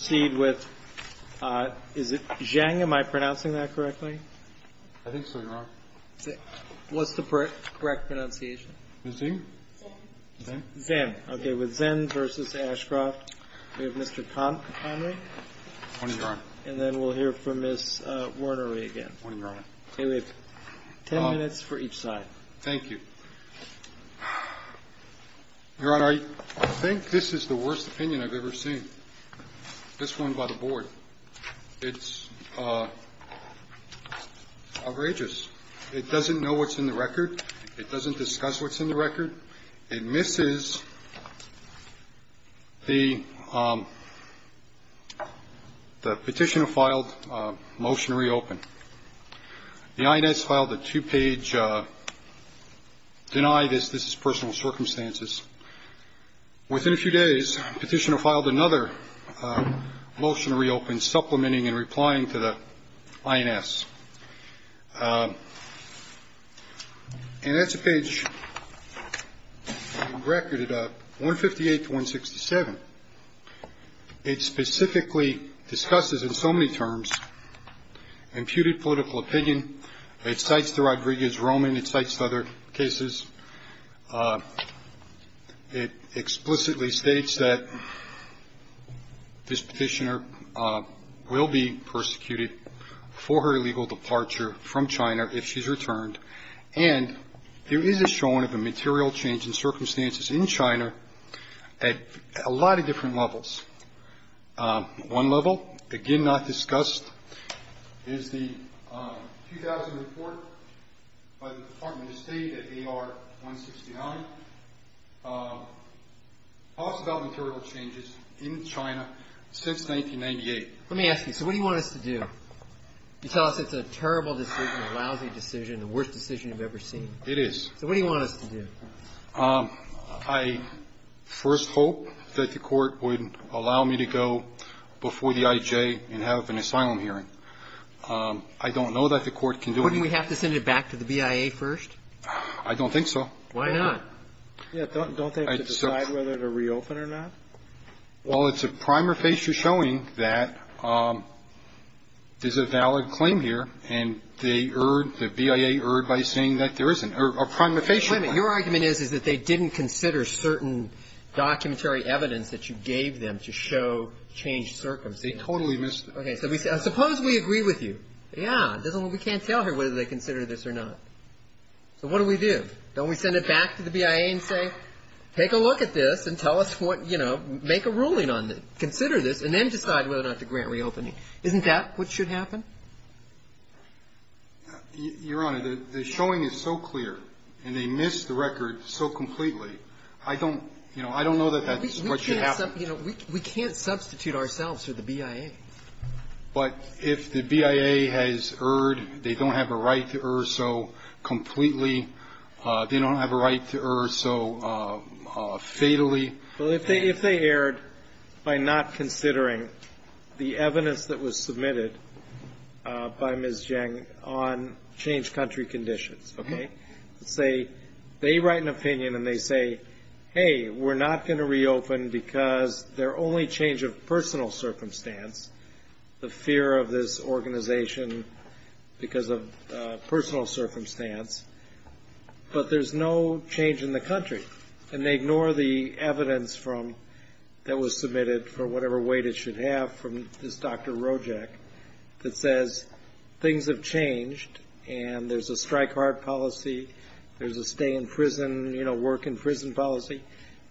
I think this is the worst opinion I've ever seen. This one by the board. It's outrageous. It doesn't know what's in the record. It doesn't discuss what's in the record. It misses the petitioner filed motion to reopen. The INS filed a two-page, deny this, this is personal circumstances. Within a few days, petitioner filed another motion to reopen, supplementing and replying to the INS. And that's a page recorded at 158 to 167. It specifically discusses in so many terms imputed political opinion. It cites the Rodriguez Roman. It cites other cases. It explicitly states that this petitioner will be persecuted for her illegal departure from China if she's returned. And there is a showing of a material change in circumstances in China at a lot of different levels. One level, again not discussed, is the 2000 report by the Department of State at AR-169. It talks about material changes in China since 1998. Let me ask you, so what do you want us to do? You tell us it's a terrible decision, a lousy decision, the worst decision you've ever seen. It is. So what do you want us to do? I first hope that the Court would allow me to go before the IJ and have an asylum hearing. I don't know that the Court can do anything. Wouldn't we have to send it back to the BIA first? I don't think so. Why not? Yeah, don't they have to decide whether to reopen or not? Well, it's a prima facie showing that there's a valid claim here, and they erred, the BIA erred by saying that there isn't. A prima facie one. Wait a minute. Your argument is that they didn't consider certain documentary evidence that you gave them to show changed circumstances. They totally missed it. Okay. So suppose we agree with you. Yeah. We can't tell here whether they consider this or not. So what do we do? Don't we send it back to the BIA and say, take a look at this and tell us what, you know, make a ruling on it, consider this, and then decide whether or not to grant reopening. Isn't that what should happen? Your Honor, the showing is so clear, and they missed the record so completely, I don't, you know, I don't know that that's what should happen. We can't substitute ourselves for the BIA. But if the BIA has erred, they don't have a right to err so completely. They don't have a right to err so fatally. Well, if they erred by not considering the evidence that was submitted by Ms. Jang on changed country conditions, okay, let's say they write an opinion and they say, hey, we're not going to reopen because their only change of personal circumstance, the fear of this organization because of personal circumstance, but there's no change in the country. And they ignore the evidence from, that was submitted for whatever weight it should have, from this Dr. Rojek that says things have changed and there's a strike hard policy, there's a stay in prison, you know, work in prison policy.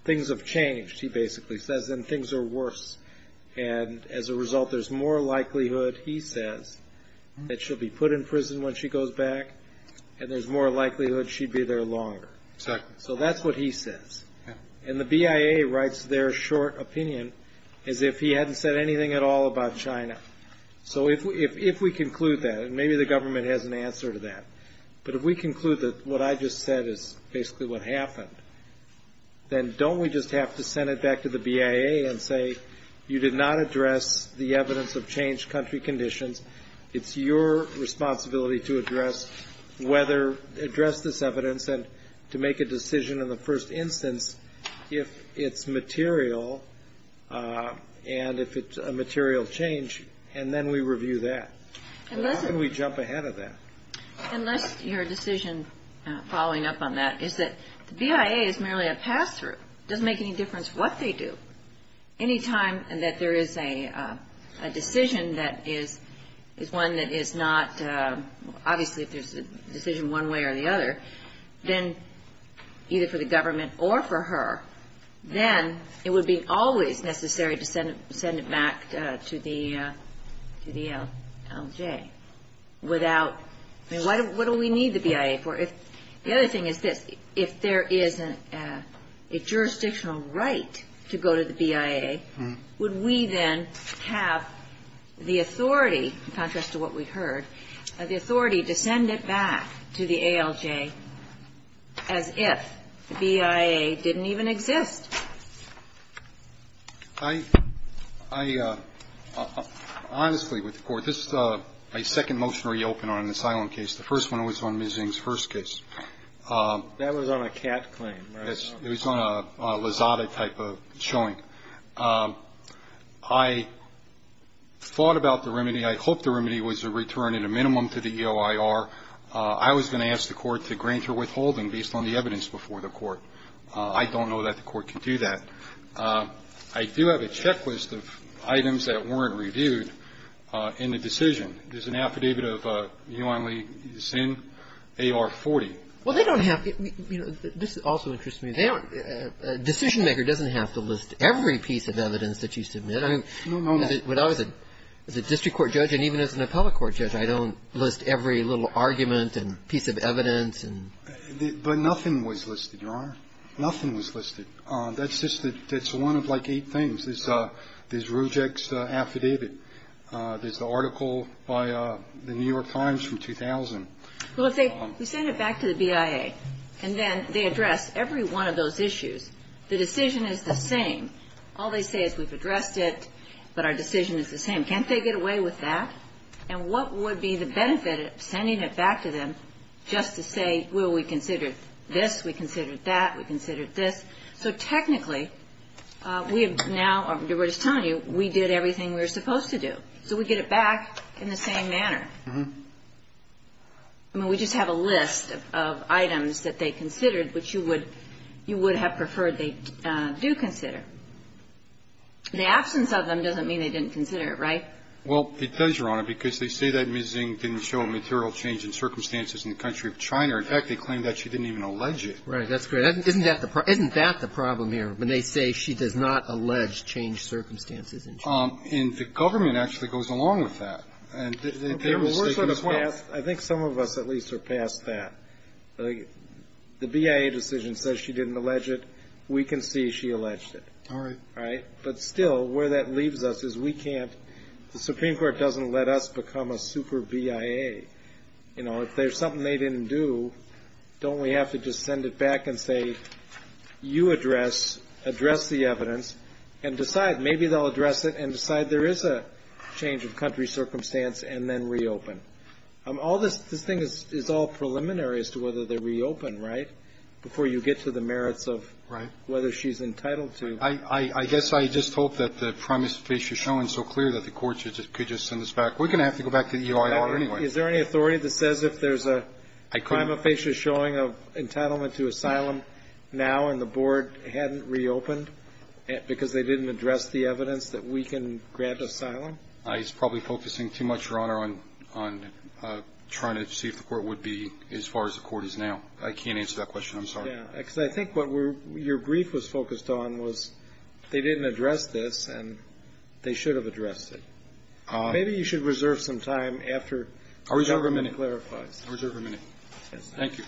Things have changed, he basically says, and things are worse. And as a result, there's more likelihood, he says, that she'll be put in prison when she goes back, and there's more likelihood she'd be there longer. Exactly. So that's what he says. And the BIA writes their short opinion as if he hadn't said anything at all about China. So if we conclude that, and maybe the government has an answer to that, but if we conclude that what I just said is basically what happened, then don't we just have to send it back to the BIA and say, you did not address the evidence of changed country conditions. It's your responsibility to address whether, address this evidence and to make a decision in the first instance if it's material and if it's a material change, and then we review that. And how can we jump ahead of that? Unless your decision following up on that is that the BIA is merely a pass-through. It doesn't make any difference what they do. Anytime that there is a decision that is one that is not, obviously if there's a decision one way or the other, then either for the government or for her, then it would be always necessary to send it back to the ALJ without, I mean, what do we need the BIA for? The other thing is this. If there is a jurisdictional right to go to the BIA, would we then have the authority, in contrast to what we heard, the authority to send it back to the ALJ as if the BIA didn't even exist? I honestly, with the Court, this is my second motionary open on an asylum case. The first one was on Ms. Ng's first case. That was on a CAT claim, right? It was on a Lazada type of showing. I thought about the remedy. I hoped the remedy was a return at a minimum to the EOIR. I was going to ask the Court to grant her withholding based on the evidence before the Court. I don't know that the Court can do that. I do have a checklist of items that weren't reviewed in the decision. There's an affidavit of Yuan Li Xin, AR-40. Well, they don't have, you know, this also interests me. A decision-maker doesn't have to list every piece of evidence that you submit. I mean, when I was a district court judge and even as an appellate court judge, I don't list every little argument and piece of evidence. But nothing was listed, Your Honor. Nothing was listed. That's just the one of like eight things. There's Rujek's affidavit. There's the article by the New York Times from 2000. Well, if they send it back to the BIA and then they address every one of those issues, the decision is the same. All they say is we've addressed it, but our decision is the same. Can't they get away with that? And what would be the benefit of sending it back to them just to say, well, we considered this, we considered that, we considered this? So technically, we have now or we're just telling you we did everything we were supposed to do. So we get it back in the same manner. I mean, we just have a list of items that they considered which you would have preferred they do consider. The absence of them doesn't mean they didn't consider it, right? Well, it does, Your Honor, because they say that Ms. Zing didn't show a material change in circumstances in the country of China. In fact, they claim that she didn't even allege it. Right. That's great. Isn't that the problem here, when they say she does not allege changed circumstances in China? And the government actually goes along with that. Okay. Well, we're sort of past. I think some of us at least are past that. The BIA decision says she didn't allege it. We can see she alleged it. All right. All right. But still, where that leaves us is we can't the Supreme Court doesn't let us become a super BIA. You know, if there's something they didn't do, don't we have to just send it back and say, you address, address the evidence, and decide. Maybe they'll address it and decide there is a change of country circumstance and then reopen. All this thing is all preliminary as to whether they reopen, right, before you get to the merits of whether she's entitled to. I guess I just hope that the prima facie showing is so clear that the court could just send us back. We're going to have to go back to the EIR anyway. Is there any authority that says if there's a prima facie showing of entitlement to asylum now and the board hadn't reopened because they didn't address the evidence that we can grant asylum? He's probably focusing too much, Your Honor, on trying to see if the court would be as far as the court is now. I can't answer that question. I'm sorry. Because I think what your brief was focused on was they didn't address this and they should have addressed it. Maybe you should reserve some time after the government clarifies. I'll reserve a minute. Thank you.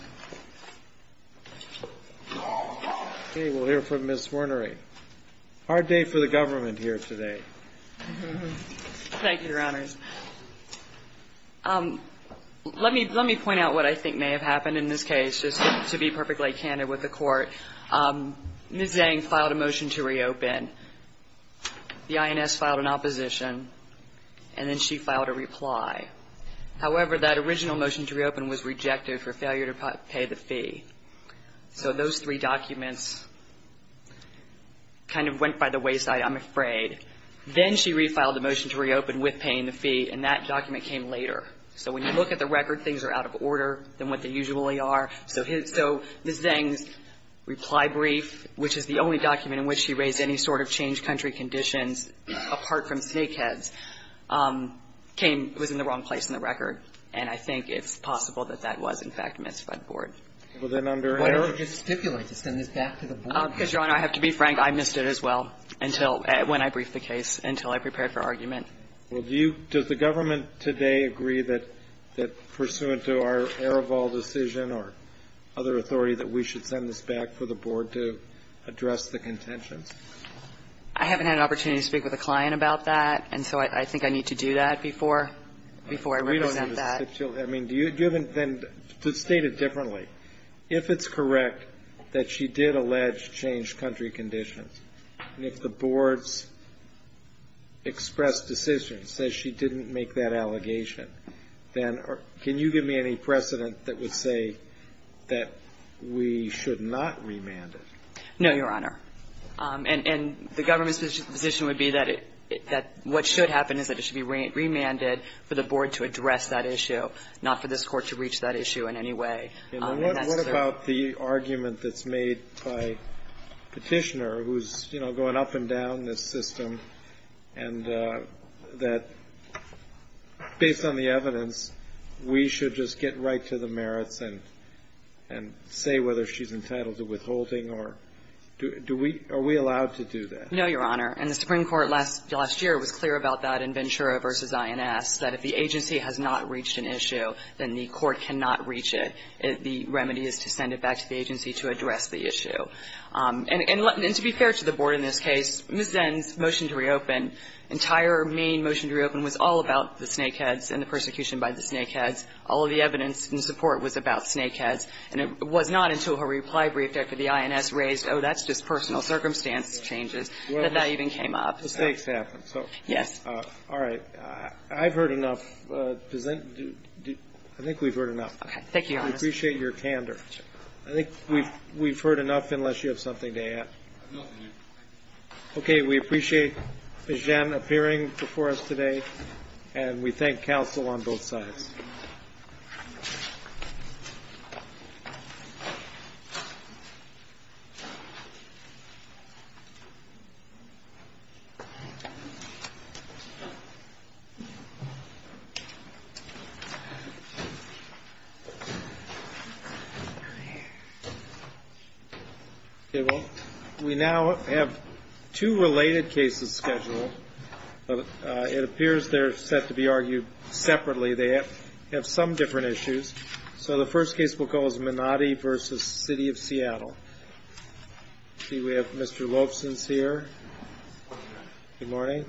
Okay. We'll hear from Ms. Wernery. Hard day for the government here today. Thank you, Your Honors. Let me point out what I think may have happened in this case, just to be perfectly candid with the court. Ms. Dang filed a motion to reopen. The INS filed an opposition. And then she filed a reply. However, that original motion to reopen was rejected for failure to pay the fee. So those three documents kind of went by the wayside, I'm afraid. Then she refiled the motion to reopen with paying the fee, and that document came later. So when you look at the record, things are out of order than what they usually are. So Ms. Dang's reply brief, which is the only document in which she raised any sort of change country conditions apart from snakeheads, came – was in the wrong place in the record. And I think it's possible that that was, in fact, missed by the board. Well, then under her – Why don't you just stipulate this? Send this back to the board. Because, Your Honor, I have to be frank. I missed it as well until – when I briefed the case, until I prepared for argument. Well, do you – does the government today agree that pursuant to our Aroval decision or other authority that we should send this back for the board to address the contentions? I haven't had an opportunity to speak with a client about that, and so I think I need to do that before – before I represent that. We don't need to stipulate. I mean, do you – then state it differently. If it's correct that she did allege change country conditions, and if the board's expressed decision says she didn't make that allegation, then can you give me any precedent that would say that we should not remand it? No, Your Honor. And the government's position would be that it – that what should happen is that it should be remanded for the board to address that issue, not for this Court to reach that issue in any way. What about the argument that's made by Petitioner, who's, you know, going up and down this system, and that based on the evidence, we should just get right to the merits and say whether she's entitled to withholding, or do we – are we allowed to do that? No, Your Honor. And the Supreme Court last year was clear about that in Ventura v. INS, that if the agency has not reached an issue, then the court cannot reach it. The remedy is to send it back to the agency to address the issue. And to be fair to the board in this case, Ms. Zins' motion to reopen, entire main motion to reopen, was all about the snakeheads and the persecution by the snakeheads. All of the evidence and support was about snakeheads. And it was not until her reply briefed after the INS raised, oh, that's just personal circumstance changes, that that even came up. Well, mistakes happen. Yes. All right. I've heard enough. I think we've heard enough. Okay. Thank you, Your Honor. We appreciate your candor. I think we've heard enough, unless you have something to add. I have nothing to add. Okay. We appreciate Ms. Zins appearing before us today. And we thank counsel on both sides. Okay. Well, we now have two related cases scheduled. It appears they're set to be argued separately. They have some different issues. So the first case we'll call is Minotti v. City of Seattle. Let's see. We have Mr. Loefsens here. Good morning.